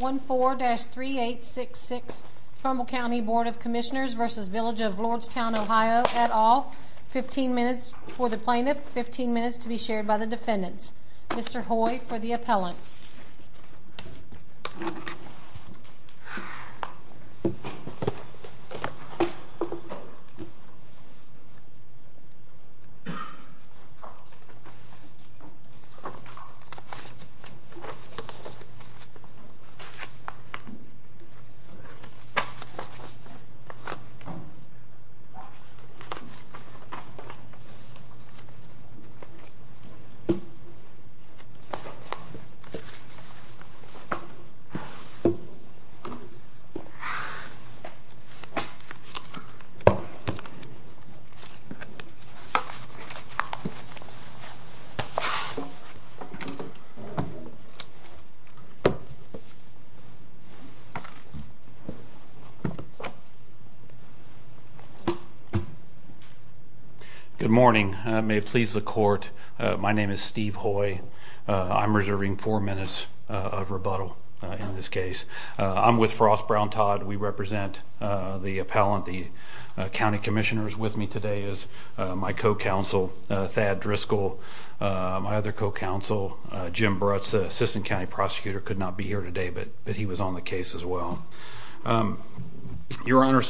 14-3866 Trumbull Cty Bd of Commissioners v. Village of Lordstown OH 15 minutes for the plaintiff, 15 minutes to be shared by the defendants Mr. Hoy for the appellant Mr. Hoy for the appellant Good morning. May it please the court. My name is Steve Hoy. I'm reserving four minutes of rebuttal in this case. I'm with Frost Brown Todd. We represent the appellant, the county commissioners with me today is my co-counsel Thad Driscoll, my other co-counsel Jim Brutz, the assistant county prosecutor. He could not be here today, but he was on the case as well. Your Honor,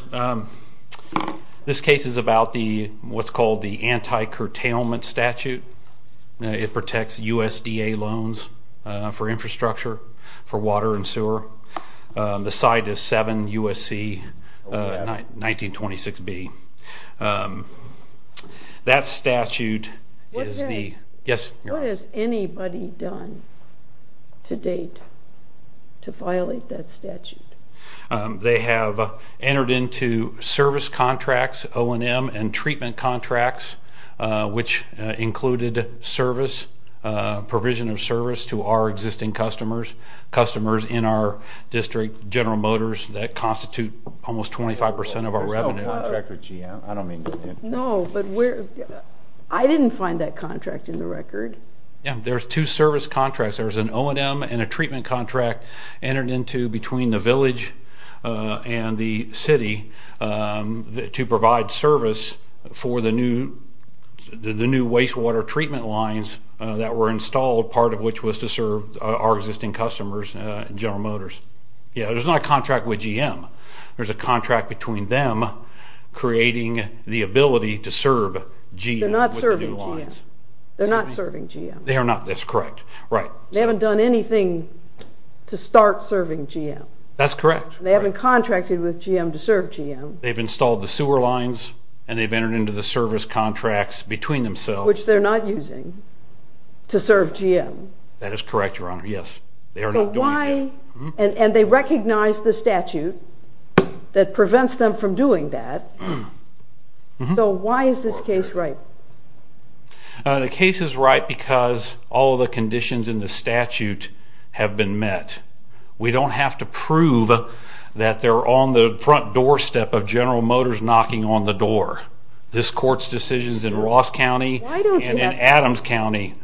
this case is about what's called the anti-curtailment statute. It protects USDA loans for infrastructure, for water and sewer. The side is 7 U.S.C. 1926B. That statute is the... ...to violate that statute. They have entered into service contracts, O&M and treatment contracts, which included service, provision of service to our existing customers, customers in our district, General Motors, that constitute almost 25% of our revenue. I don't mean to... No, but we're... I didn't find that contract in the record. Yeah, there's two service contracts. There's an O&M and a treatment contract entered into between the village and the city to provide service for the new wastewater treatment lines that were installed, part of which was to serve our existing customers in General Motors. Yeah, there's not a contract with GM. There's a contract between them creating the ability to serve GM with the new lines. They're not serving GM. They're not serving GM. They are not. That's correct. Right. They haven't done anything to start serving GM. That's correct. They haven't contracted with GM to serve GM. They've installed the sewer lines and they've entered into the service contracts between themselves. Which they're not using to serve GM. That is correct, Your Honor. Yes. And they recognize the statute that prevents them from doing that. So why is this case right? The case is right because all of the conditions in the statute have been met. We don't have to prove that they're on the front doorstep of General Motors knocking on the door. This court's decision is in Ross County and in Adams County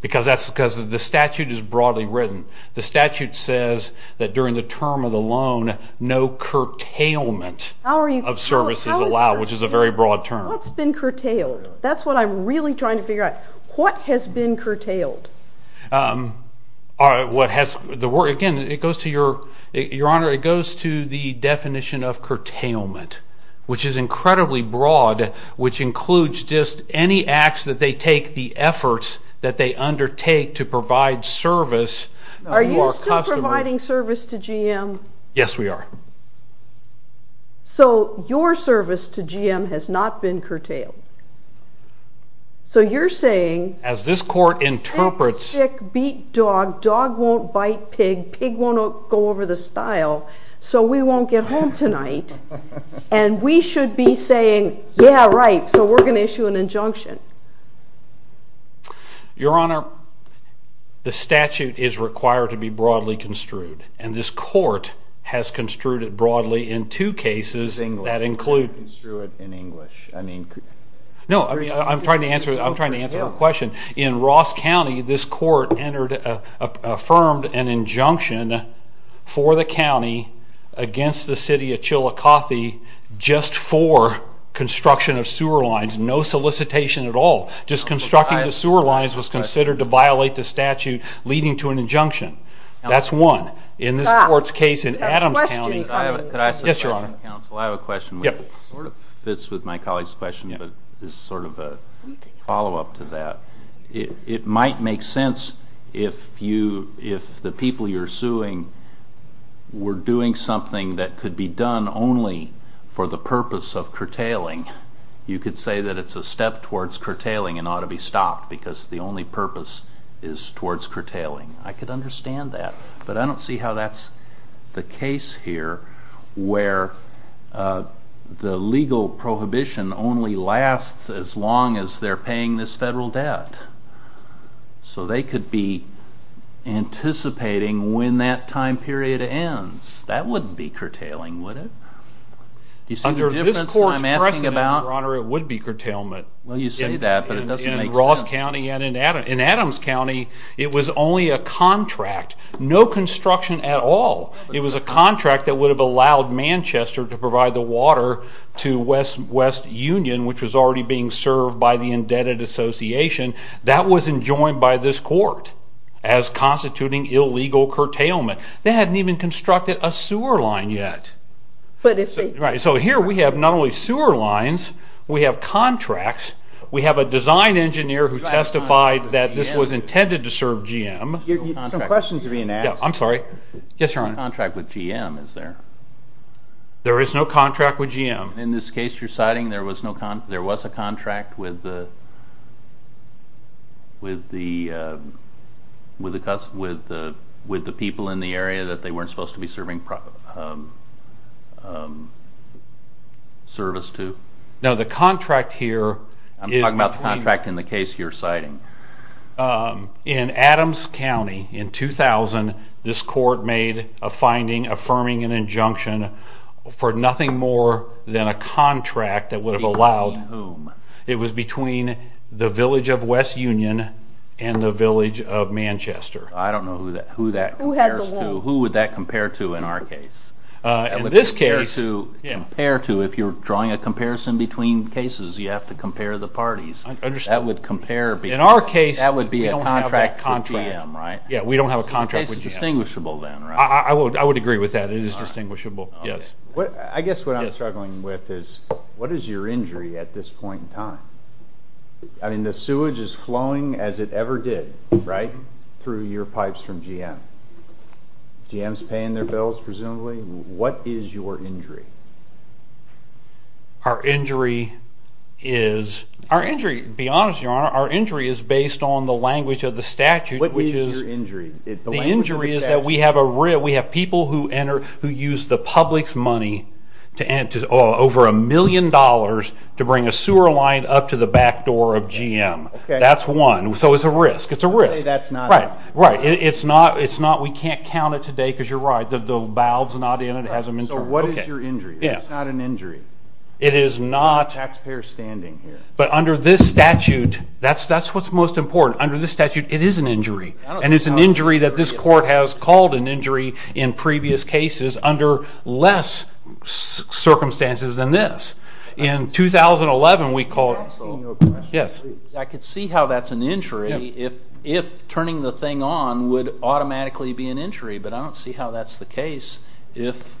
because the statute is broadly written. The statute says that during the term of the loan, no curtailment of service is allowed, which is a very broad term. What's been curtailed? That's what I'm really trying to figure out. What has been curtailed? Again, Your Honor, it goes to the definition of curtailment, which is incredibly broad, which includes just any acts that they take, the efforts that they undertake to provide service. Are you still providing service to GM? Yes, we are. So your service to GM has not been curtailed. So you're saying— As this court interprets— Sick, sick, beat dog, dog won't bite pig, pig won't go over the stile, so we won't get home tonight. And we should be saying, yeah, right, so we're going to issue an injunction. Your Honor, the statute is required to be broadly construed, and this court has construed it broadly in two cases that include— No, I'm trying to answer the question. In Ross County, this court affirmed an injunction for the county against the city of Chillicothe just for construction of sewer lines, no solicitation at all. Just constructing the sewer lines was considered to violate the statute, leading to an injunction. That's one. In this court's case in Adams County— This is sort of a follow-up to that. It might make sense if the people you're suing were doing something that could be done only for the purpose of curtailing. You could say that it's a step towards curtailing and ought to be stopped because the only purpose is towards curtailing. I could understand that, but I don't see how that's the case here where the legal prohibition only lasts as long as they're paying this federal debt, so they could be anticipating when that time period ends. That wouldn't be curtailing, would it? Under this court's precedent, Your Honor, it would be curtailment. Well, you say that, but it doesn't make sense. In Ross County and in Adams County, it was only a contract, no construction at all. It was a contract that would have allowed Manchester to provide the water to West Union, which was already being served by the indebted association. That wasn't joined by this court as constituting illegal curtailment. They hadn't even constructed a sewer line yet. So here we have not only sewer lines, we have contracts. We have a design engineer who testified that this was intended to serve GM. Some questions are being asked. I'm sorry. Yes, Your Honor. There is no contract with GM, is there? There is no contract with GM. In this case you're citing, there was a contract with the people in the area that they weren't supposed to be serving service to? No, the contract here is between— I'm talking about the contract in the case you're citing. In Adams County in 2000, this court made a finding affirming an injunction for nothing more than a contract that would have allowed— Between whom? It was between the village of West Union and the village of Manchester. I don't know who that compares to. Who would that compare to in our case? In this case— If you're drawing a comparison between cases, you have to compare the parties. I understand. In our case, we don't have that contract. That would be a contract with GM, right? Yeah, we don't have a contract with GM. So the case is distinguishable then, right? I would agree with that. It is distinguishable, yes. I guess what I'm struggling with is what is your injury at this point in time? I mean, the sewage is flowing as it ever did, right, through your pipes from GM. GM's paying their bills, presumably. What is your injury? Our injury is— Be honest, Your Honor. Our injury is based on the language of the statute. What is your injury? The injury is that we have people who use the public's money, over a million dollars, to bring a sewer line up to the back door of GM. Okay. That's one. So it's a risk. It's a risk. You say that's not— Right. We can't count it today because you're right. The valve's not in it. It hasn't been turned. Your Honor, what is your injury? It's not an injury. It is not. Taxpayers standing here. But under this statute, that's what's most important. Under this statute, it is an injury. And it's an injury that this court has called an injury in previous cases under less circumstances than this. In 2011, we called— Can I ask you a question? Yes. I could see how that's an injury if turning the thing on would automatically be an injury, but I don't see how that's the case if,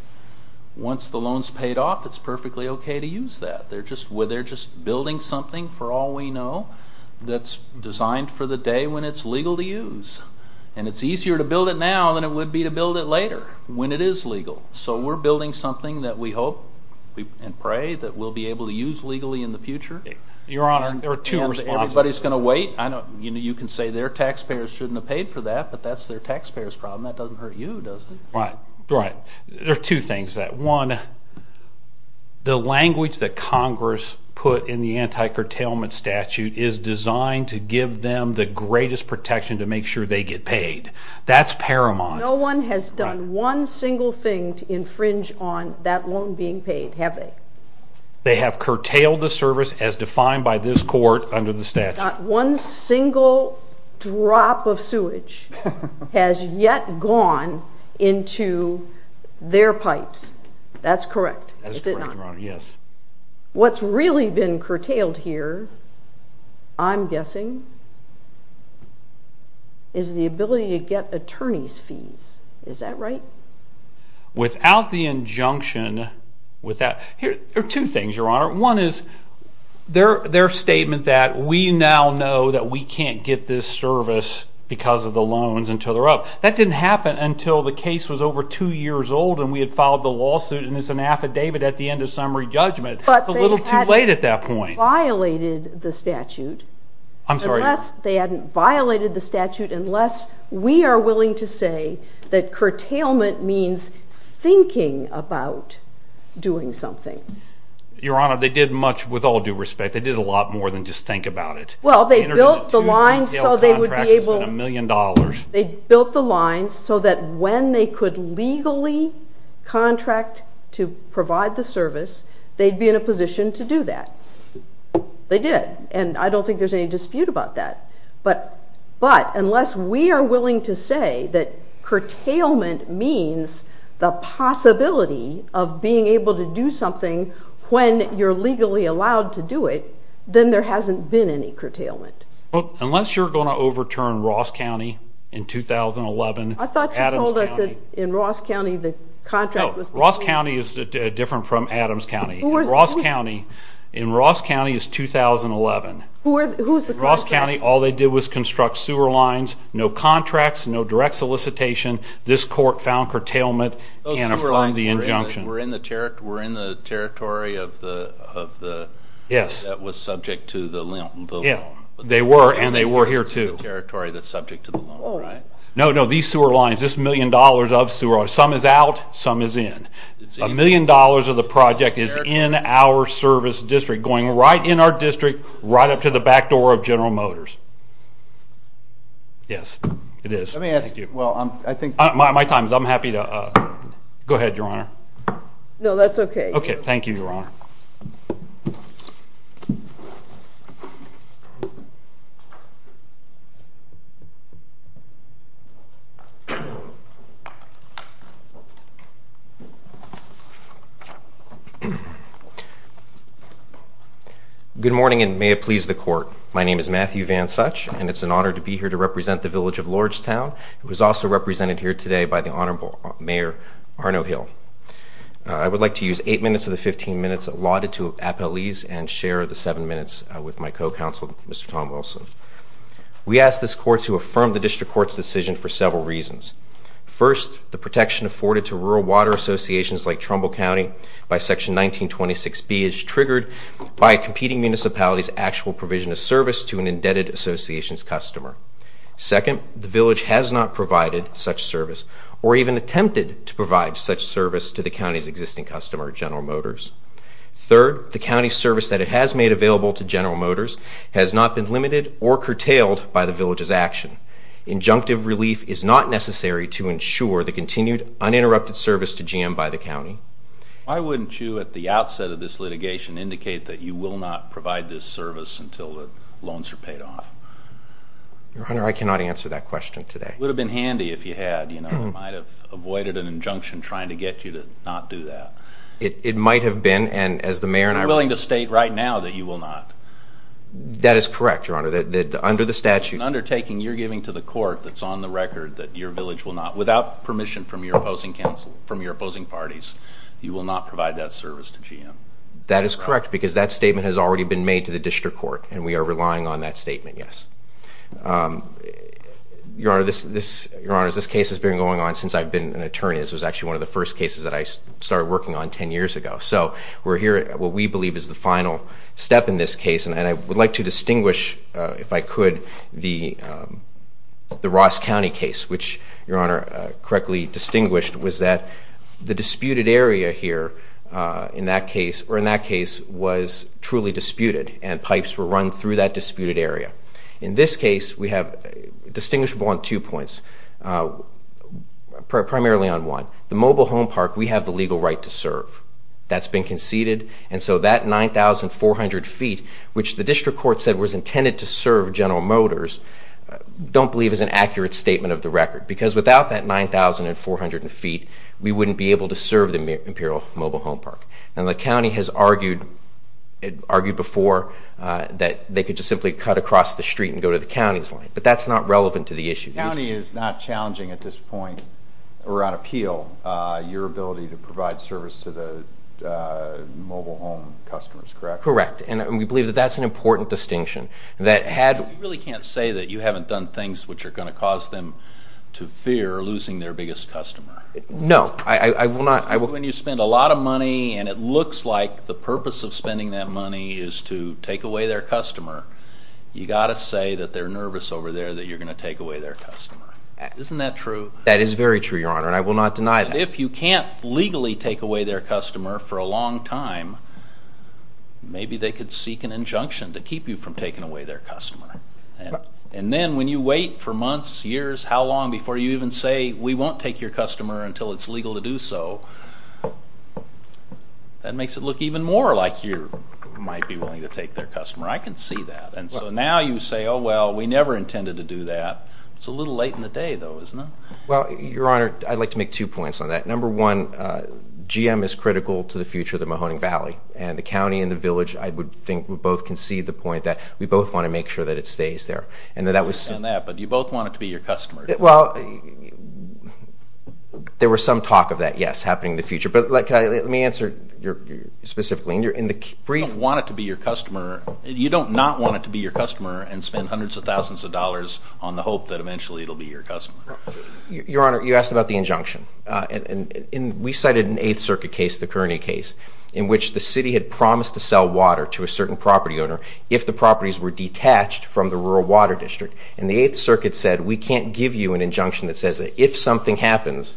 once the loan's paid off, it's perfectly okay to use that. They're just building something, for all we know, that's designed for the day when it's legal to use. And it's easier to build it now than it would be to build it later, when it is legal. So we're building something that we hope and pray that we'll be able to use legally in the future. Your Honor, there are two responses. Everybody's going to wait. You can say their taxpayers shouldn't have paid for that, but that's their taxpayers' problem. That doesn't hurt you, does it? Right. Right. There are two things to that. One, the language that Congress put in the anti-curtailment statute is designed to give them the greatest protection to make sure they get paid. That's paramount. No one has done one single thing to infringe on that loan being paid, have they? They have curtailed the service as defined by this court under the statute. Not one single drop of sewage has yet gone into their pipes. That's correct, is it not? That's correct, Your Honor, yes. What's really been curtailed here, I'm guessing, is the ability to get attorney's fees. Is that right? Without the injunction, without. There are two things, Your Honor. One is their statement that we now know that we can't get this service because of the loans until they're up. That didn't happen until the case was over two years old and we had filed the lawsuit and it's an affidavit at the end of summary judgment. It's a little too late at that point. But they hadn't violated the statute. I'm sorry? They hadn't violated the statute unless we are willing to say that curtailment means thinking about doing something. Your Honor, they did much with all due respect. They did a lot more than just think about it. Well, they built the lines so they would be able to. They built the lines so that when they could legally contract to provide the service, they'd be in a position to do that. They did, and I don't think there's any dispute about that. But unless we are willing to say that curtailment means the possibility of being able to do something when you're legally allowed to do it, then there hasn't been any curtailment. Well, unless you're going to overturn Ross County in 2011. I thought you told us that in Ross County the contract was... No, Ross County is different from Adams County. In Ross County, in Ross County is 2011. Who's the contractor? In Ross County, all they did was construct sewer lines. No contracts, no direct solicitation. This court found curtailment and affirmed the injunction. Those sewer lines were in the territory of the... Yes. ...that was subject to the loan. They were, and they were here, too. ...the territory that's subject to the loan, right? No, no, these sewer lines, this million dollars of sewer. Some is out, some is in. A million dollars of the project is in our service district, going right in our district, right up to the back door of General Motors. Yes, it is. Let me ask you, well, I think... My time is up. I'm happy to... Go ahead, Your Honor. No, that's okay. Okay, thank you, Your Honor. Good morning, and may it please the court. My name is Matthew Van Such, and it's an honor to be here to represent the village of Lordstown. It was also represented here today by the Honorable Mayor Arno Hill. I would like to use eight minutes of the 15 minutes allotted to appellees and share the seven minutes with my co-counsel, Mr. Tom Wilson. We asked this court to affirm the district court's decision for several reasons. First, the protection afforded to rural water associations like Trumbull County by Section 1926B is triggered by competing municipalities' actual provision of service to an indebted association's customer. Second, the village has not provided such service or even attempted to provide such service to the county's existing customer, General Motors. Third, the county's service that it has made available to General Motors has not been limited or curtailed by the village's action. Injunctive relief is not necessary to ensure the continued uninterrupted service to GM by the county. Why wouldn't you, at the outset of this litigation, indicate that you will not provide this service until the loans are paid off? Your Honor, I cannot answer that question today. It would have been handy if you had. You know, I might have avoided an injunction trying to get you to not do that. It might have been, and as the mayor and I were willing to state right now that you will not. That is correct, Your Honor, that under the statute. It's an undertaking you're giving to the court that's on the record that your village will not, That is correct because that statement has already been made to the district court, and we are relying on that statement, yes. Your Honor, this case has been going on since I've been an attorney. This was actually one of the first cases that I started working on 10 years ago. So we're here at what we believe is the final step in this case, and I would like to distinguish, if I could, the Ross County case, which Your Honor correctly distinguished was that the disputed area here in that case, or in that case was truly disputed, and pipes were run through that disputed area. In this case, we have distinguishable on two points, primarily on one. The mobile home park, we have the legal right to serve. That's been conceded, and so that 9,400 feet, which the district court said was intended to serve General Motors, don't believe is an accurate statement of the record, because without that 9,400 feet, we wouldn't be able to serve the Imperial Mobile Home Park, and the county has argued before that they could just simply cut across the street and go to the county's line, but that's not relevant to the issue. The county is not challenging at this point, or on appeal, your ability to provide service to the mobile home customers, correct? Correct, and we believe that that's an important distinction. You really can't say that you haven't done things which are going to cause them to fear losing their biggest customer. No, I will not. When you spend a lot of money, and it looks like the purpose of spending that money is to take away their customer, you've got to say that they're nervous over there that you're going to take away their customer. Isn't that true? That is very true, Your Honor, and I will not deny that. If you can't legally take away their customer for a long time, maybe they could seek an injunction to keep you from taking away their customer, and then when you wait for months, years, how long before you even say, we won't take your customer until it's legal to do so, that makes it look even more like you might be willing to take their customer. I can see that, and so now you say, oh, well, we never intended to do that. It's a little late in the day, though, isn't it? Well, Your Honor, I'd like to make two points on that. Number one, GM is critical to the future of the Mahoning Valley, and the county and the village, I would think, would both concede the point that we both want to make sure that it stays there. I understand that, but you both want it to be your customer. Well, there was some talk of that, yes, happening in the future, but let me answer specifically. You don't want it to be your customer. You don't not want it to be your customer and spend hundreds of thousands of dollars on the hope that eventually it will be your customer. Your Honor, you asked about the injunction, and we cited an Eighth Circuit case, the Kearney case, in which the city had promised to sell water to a certain property owner if the properties were detached from the rural water district, and the Eighth Circuit said, we can't give you an injunction that says that if something happens,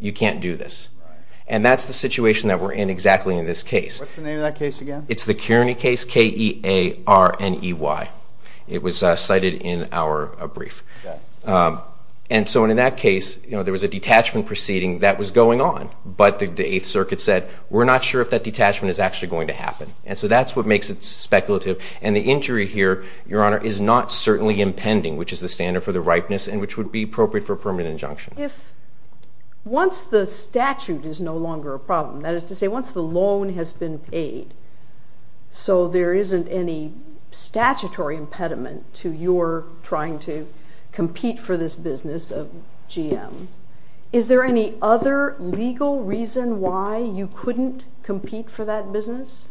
you can't do this, and that's the situation that we're in exactly in this case. What's the name of that case again? It's the Kearney case, K-E-A-R-N-E-Y. It was cited in our brief, and so in that case, there was a detachment proceeding that was going on, but the Eighth Circuit said, we're not sure if that detachment is actually going to happen, and so that's what makes it speculative, and the injury here, Your Honor, is not certainly impending, which is the standard for the ripeness and which would be appropriate for a permanent injunction. If once the statute is no longer a problem, that is to say once the loan has been paid, so there isn't any statutory impediment to your trying to compete for this business of GM, is there any other legal reason why you couldn't compete for that business?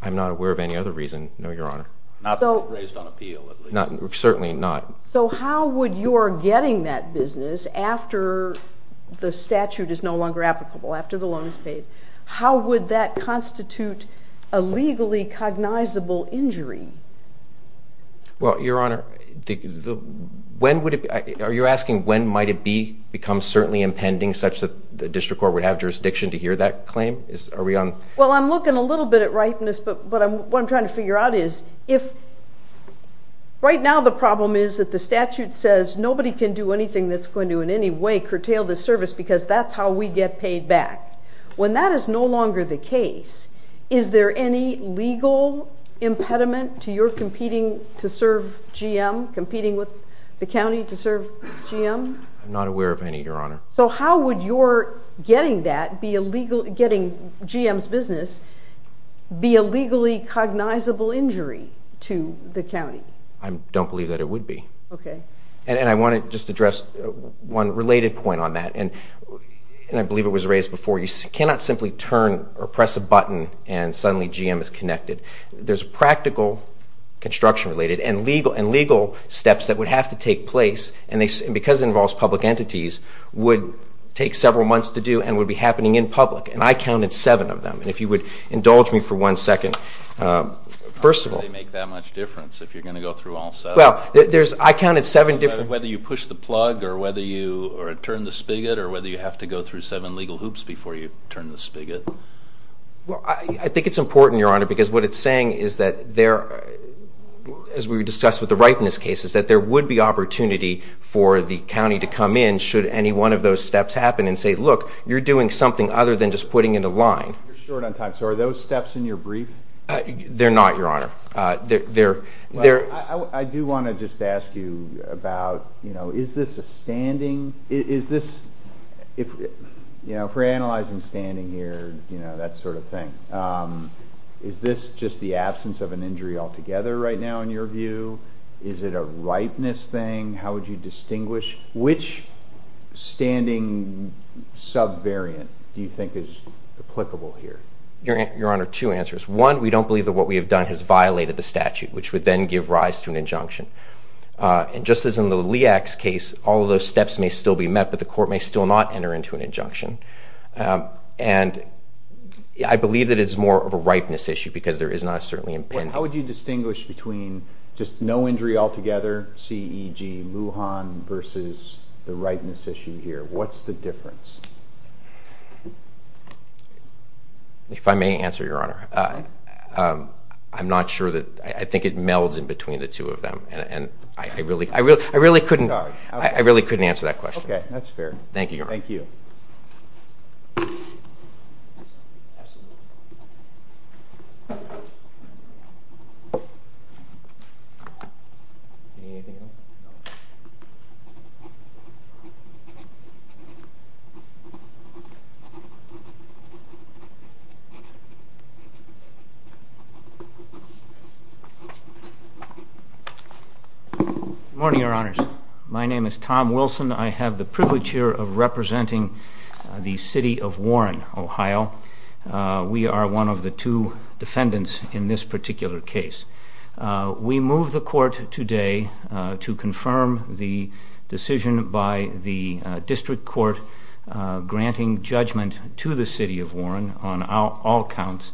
I'm not aware of any other reason, no, Your Honor. Not based on appeal, at least. Certainly not. So how would your getting that business after the statute is no longer applicable, after the loan is paid, how would that constitute a legally cognizable injury? Well, Your Honor, are you asking when might it become certainly impending such that the district court would have jurisdiction to hear that claim? Well, I'm looking a little bit at ripeness, but what I'm trying to figure out is, right now the problem is that the statute says nobody can do anything that's going to in any way curtail this service because that's how we get paid back. When that is no longer the case, is there any legal impediment to your competing to serve GM, competing with the county to serve GM? I'm not aware of any, Your Honor. So how would your getting that, getting GM's business, be a legally cognizable injury to the county? I don't believe that it would be. Okay. And I want to just address one related point on that, and I believe it was raised before. You cannot simply turn or press a button and suddenly GM is connected. There's practical construction related and legal steps that would have to take place, and because it involves public entities, would take several months to do and would be happening in public, and I counted seven of them. And if you would indulge me for one second. How could they make that much difference if you're going to go through all seven? Well, I counted seven different... Whether you push the plug or turn the spigot or whether you have to go through seven legal hoops before you turn the spigot. Well, I think it's important, Your Honor, because what it's saying is that there, as we discussed with the ripeness cases, that there would be opportunity for the county to come in should any one of those steps happen and say, look, you're doing something other than just putting in a line. You're short on time. So are those steps in your brief? They're not, Your Honor. I do want to just ask you about, you know, is this a standing? Is this... You know, if we're analyzing standing here, you know, that sort of thing, is this just the absence of an injury altogether right now in your view? Is it a ripeness thing? How would you distinguish? Which standing sub-variant do you think is applicable here? Your Honor, two answers. One, we don't believe that what we have done has violated the statute, which would then give rise to an injunction. And just as in the LIAC's case, all of those steps may still be met, but the court may still not enter into an injunction. And I believe that it's more of a ripeness issue because there is not a certainly impending. How would you distinguish between just no injury altogether, see e.g. Lujan versus the ripeness issue here? What's the difference? If I may answer, Your Honor, I'm not sure that... I think it melds in between the two of them. And I really couldn't answer that question. Okay, that's fair. Thank you, Your Honor. Thank you. Thank you. Good morning, Your Honors. My name is Tom Wilson. I have the privilege here of representing the city of Warren, Ohio. We are one of the two defendants in this particular case. We move the court today to confirm the decision by the district court granting judgment to the city of Warren on all counts,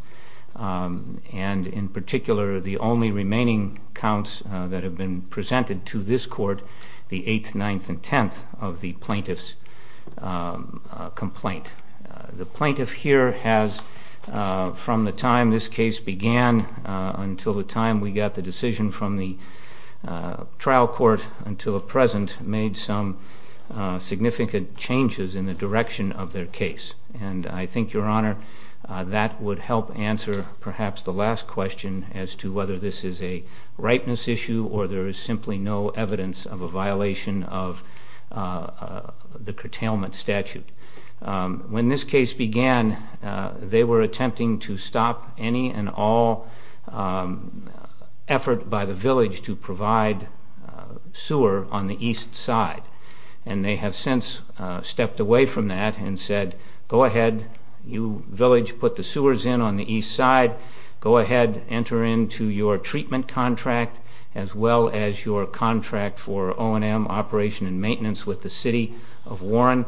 and in particular the only remaining counts that have been presented to this court, the 8th, 9th, and 10th of the plaintiff's complaint. The plaintiff here has, from the time this case began until the time we got the decision from the trial court until the present, made some significant changes in the direction of their case. And I think, Your Honor, that would help answer perhaps the last question as to whether this is a ripeness issue or there is simply no evidence of a violation of the curtailment statute. When this case began, they were attempting to stop any and all effort by the village to provide sewer on the east side. And they have since stepped away from that and said, go ahead, you village put the sewers in on the east side, go ahead, enter into your treatment contract as well as your contract for O&M operation and maintenance with the city of Warren.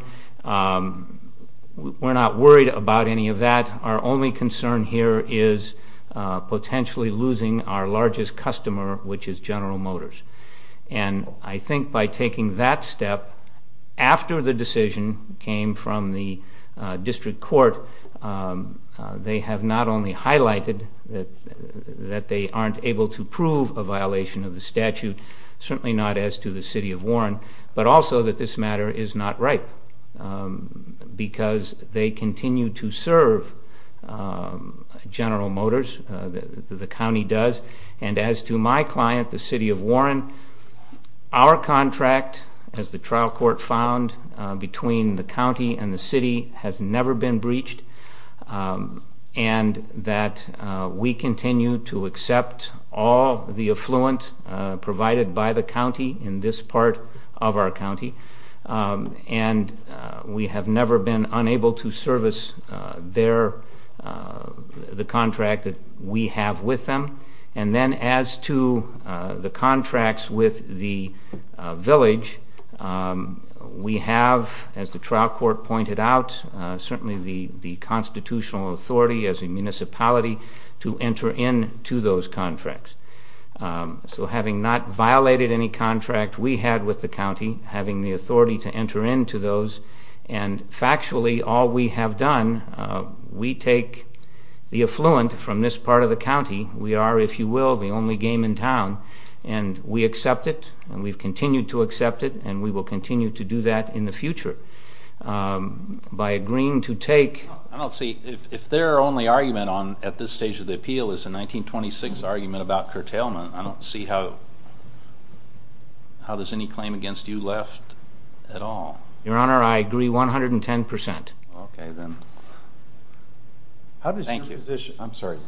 We're not worried about any of that. Our only concern here is potentially losing our largest customer, which is General Motors. And I think by taking that step after the decision came from the district court, they have not only highlighted that they aren't able to prove a violation of the statute, certainly not as to the city of Warren, but also that this matter is not ripe because they continue to serve General Motors, the county does. And as to my client, the city of Warren, our contract, as the trial court found, between the county and the city has never been breached and that we continue to accept all the affluent provided by the county in this part of our county. And we have never been unable to service the contract that we have with them. And then as to the contracts with the village, we have, as the trial court pointed out, certainly the constitutional authority as a municipality to enter into those contracts. So having not violated any contract we had with the county, having the authority to enter into those, and factually all we have done, we take the affluent from this part of the county, we are, if you will, the only game in town, and we accept it and we've continued to accept it and we will continue to do that in the future. By agreeing to take... I don't see, if their only argument at this stage of the appeal is the 1926 argument about curtailment, I don't see how there's any claim against you left at all. Your Honor, I agree 110%. Okay then. Thank you. I'm sorry,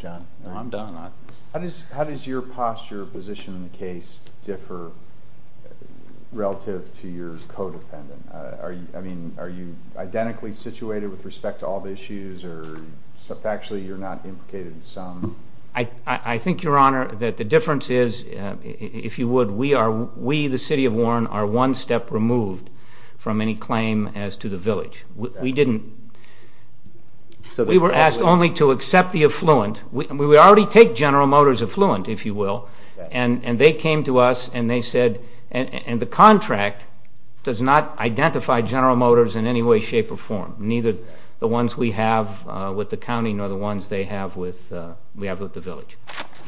John. I'm done. How does your posture or position in the case differ relative to your codependent? I mean, are you identically situated with respect to all the issues or factually you're not implicated in some? I think, Your Honor, that the difference is, if you would, we, the city of Warren, are one step removed from any claim as to the village. We didn't. We were asked only to accept the affluent. We already take General Motors affluent, if you will, and they came to us and they said, and the contract does not identify General Motors in any way, shape, or form, neither the ones we have with the county nor the ones they have with the village.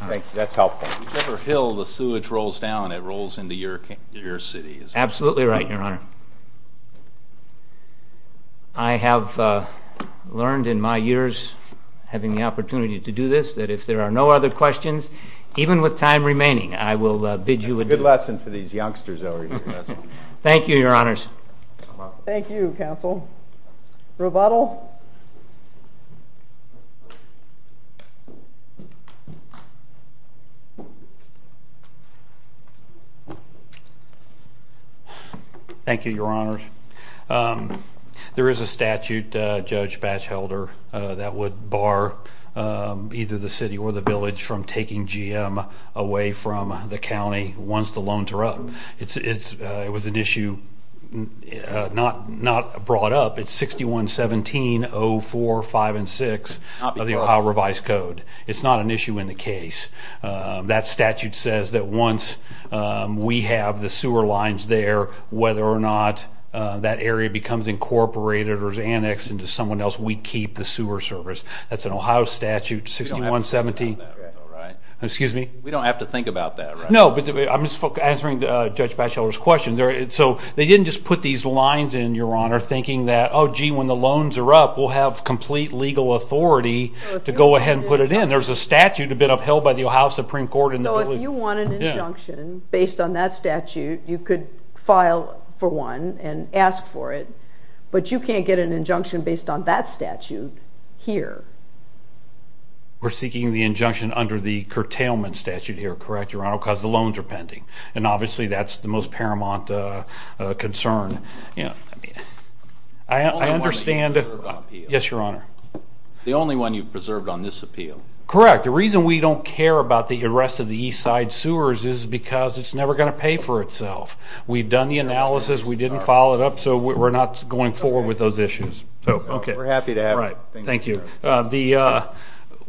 Thank you. That's helpful. Whichever hill the sewage rolls down, it rolls into your city. Absolutely right, Your Honor. I have learned in my years having the opportunity to do this that if there are no other questions, even with time remaining, I will bid you adieu. That's a good lesson for these youngsters over here. Thank you, Your Honors. Thank you, counsel. Rebuttal. Thank you, Your Honors. There is a statute, Judge Batchelder, that would bar either the city or the village from taking GM away from the county once the loans are up. It was an issue not brought up. It's 6117.04.5 and 6 of the Ohio Revised Code. It's not an issue in the case. That statute says that once we have the sewer lines there, whether or not that area becomes incorporated or is annexed into someone else, we keep the sewer service. That's an Ohio statute, 6117. We don't have to think about that, right? Excuse me? We don't have to think about that, right? No, but I'm just answering Judge Batchelder's question. So they didn't just put these lines in, Your Honor, thinking that, oh, gee, when the loans are up, we'll have complete legal authority to go ahead and put it in. There's a statute that's been upheld by the Ohio Supreme Court and the village. So if you want an injunction based on that statute, you could file for one and ask for it. But you can't get an injunction based on that statute here. We're seeking the injunction under the curtailment statute here, correct, Your Honor, because the loans are pending. And obviously that's the most paramount concern. The only one you've preserved on appeal. Yes, Your Honor. The only one you've preserved on this appeal. Correct. The reason we don't care about the arrest of the east side sewers is because it's never going to pay for itself. We've done the analysis. We didn't follow it up. So we're not going forward with those issues. We're happy to have it. Thank you.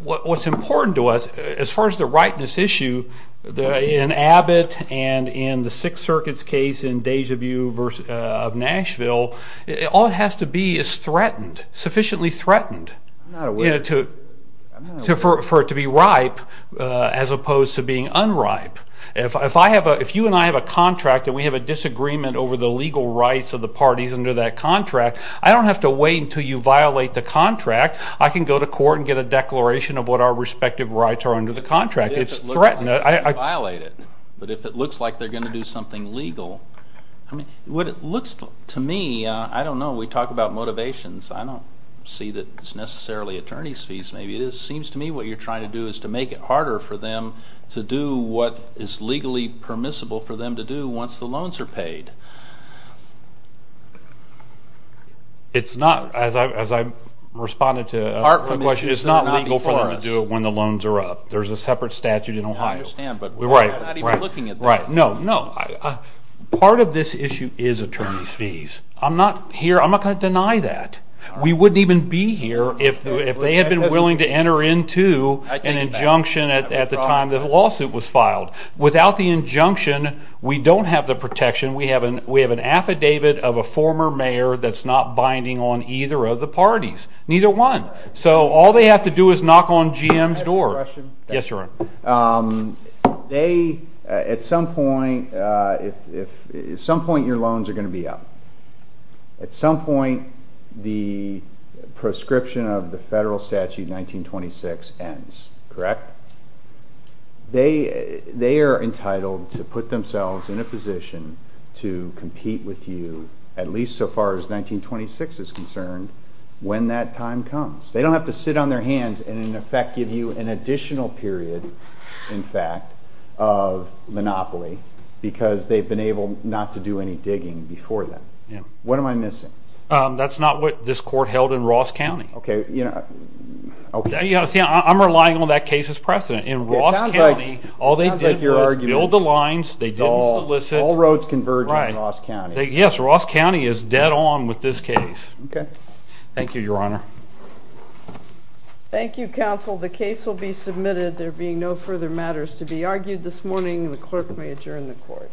What's important to us, as far as the ripeness issue, in Abbott and in the Sixth Circuit's case in Deja Vu of Nashville, all it has to be is threatened, sufficiently threatened, for it to be ripe as opposed to being unripe. If you and I have a contract and we have a disagreement over the legal rights of the parties under that contract, I don't have to wait until you violate the contract. I can go to court and get a declaration of what our respective rights are under the contract. It's threatened. But if it looks like they're going to violate it, but if it looks like they're going to do something legal, what it looks to me, I don't know. We talk about motivations. I don't see that it's necessarily attorney's fees. Maybe it is. It seems to me what you're trying to do is to make it harder for them to do what is legally permissible for them to do once the loans are paid. It's not, as I responded to a question, it's not legal for them to do it when the loans are up. There's a separate statute in Ohio. I understand, but we're not even looking at that. No, no. Part of this issue is attorney's fees. I'm not here. I'm not going to deny that. We wouldn't even be here if they had been willing to enter into an injunction at the time the lawsuit was filed. Without the injunction, we don't have the protection. We have an affidavit of a former mayor that's not binding on either of the parties, neither one. So all they have to do is knock on GM's door. Can I ask a question? Yes, sir. At some point, your loans are going to be up. At some point, the proscription of the federal statute 1926 ends, correct? They are entitled to put themselves in a position to compete with you, at least so far as 1926 is concerned, when that time comes. They don't have to sit on their hands and, in effect, give you an additional period, in fact, of monopoly because they've been able not to do any digging before then. What am I missing? That's not what this court held in Ross County. Okay. See, I'm relying on that case as precedent. In Ross County, all they did was build the lines. They didn't solicit. All roads converge in Ross County. Yes, Ross County is dead on with this case. Okay. Thank you, Your Honor. Thank you, counsel. The case will be submitted. There being no further matters to be argued this morning, the clerk may adjourn the court.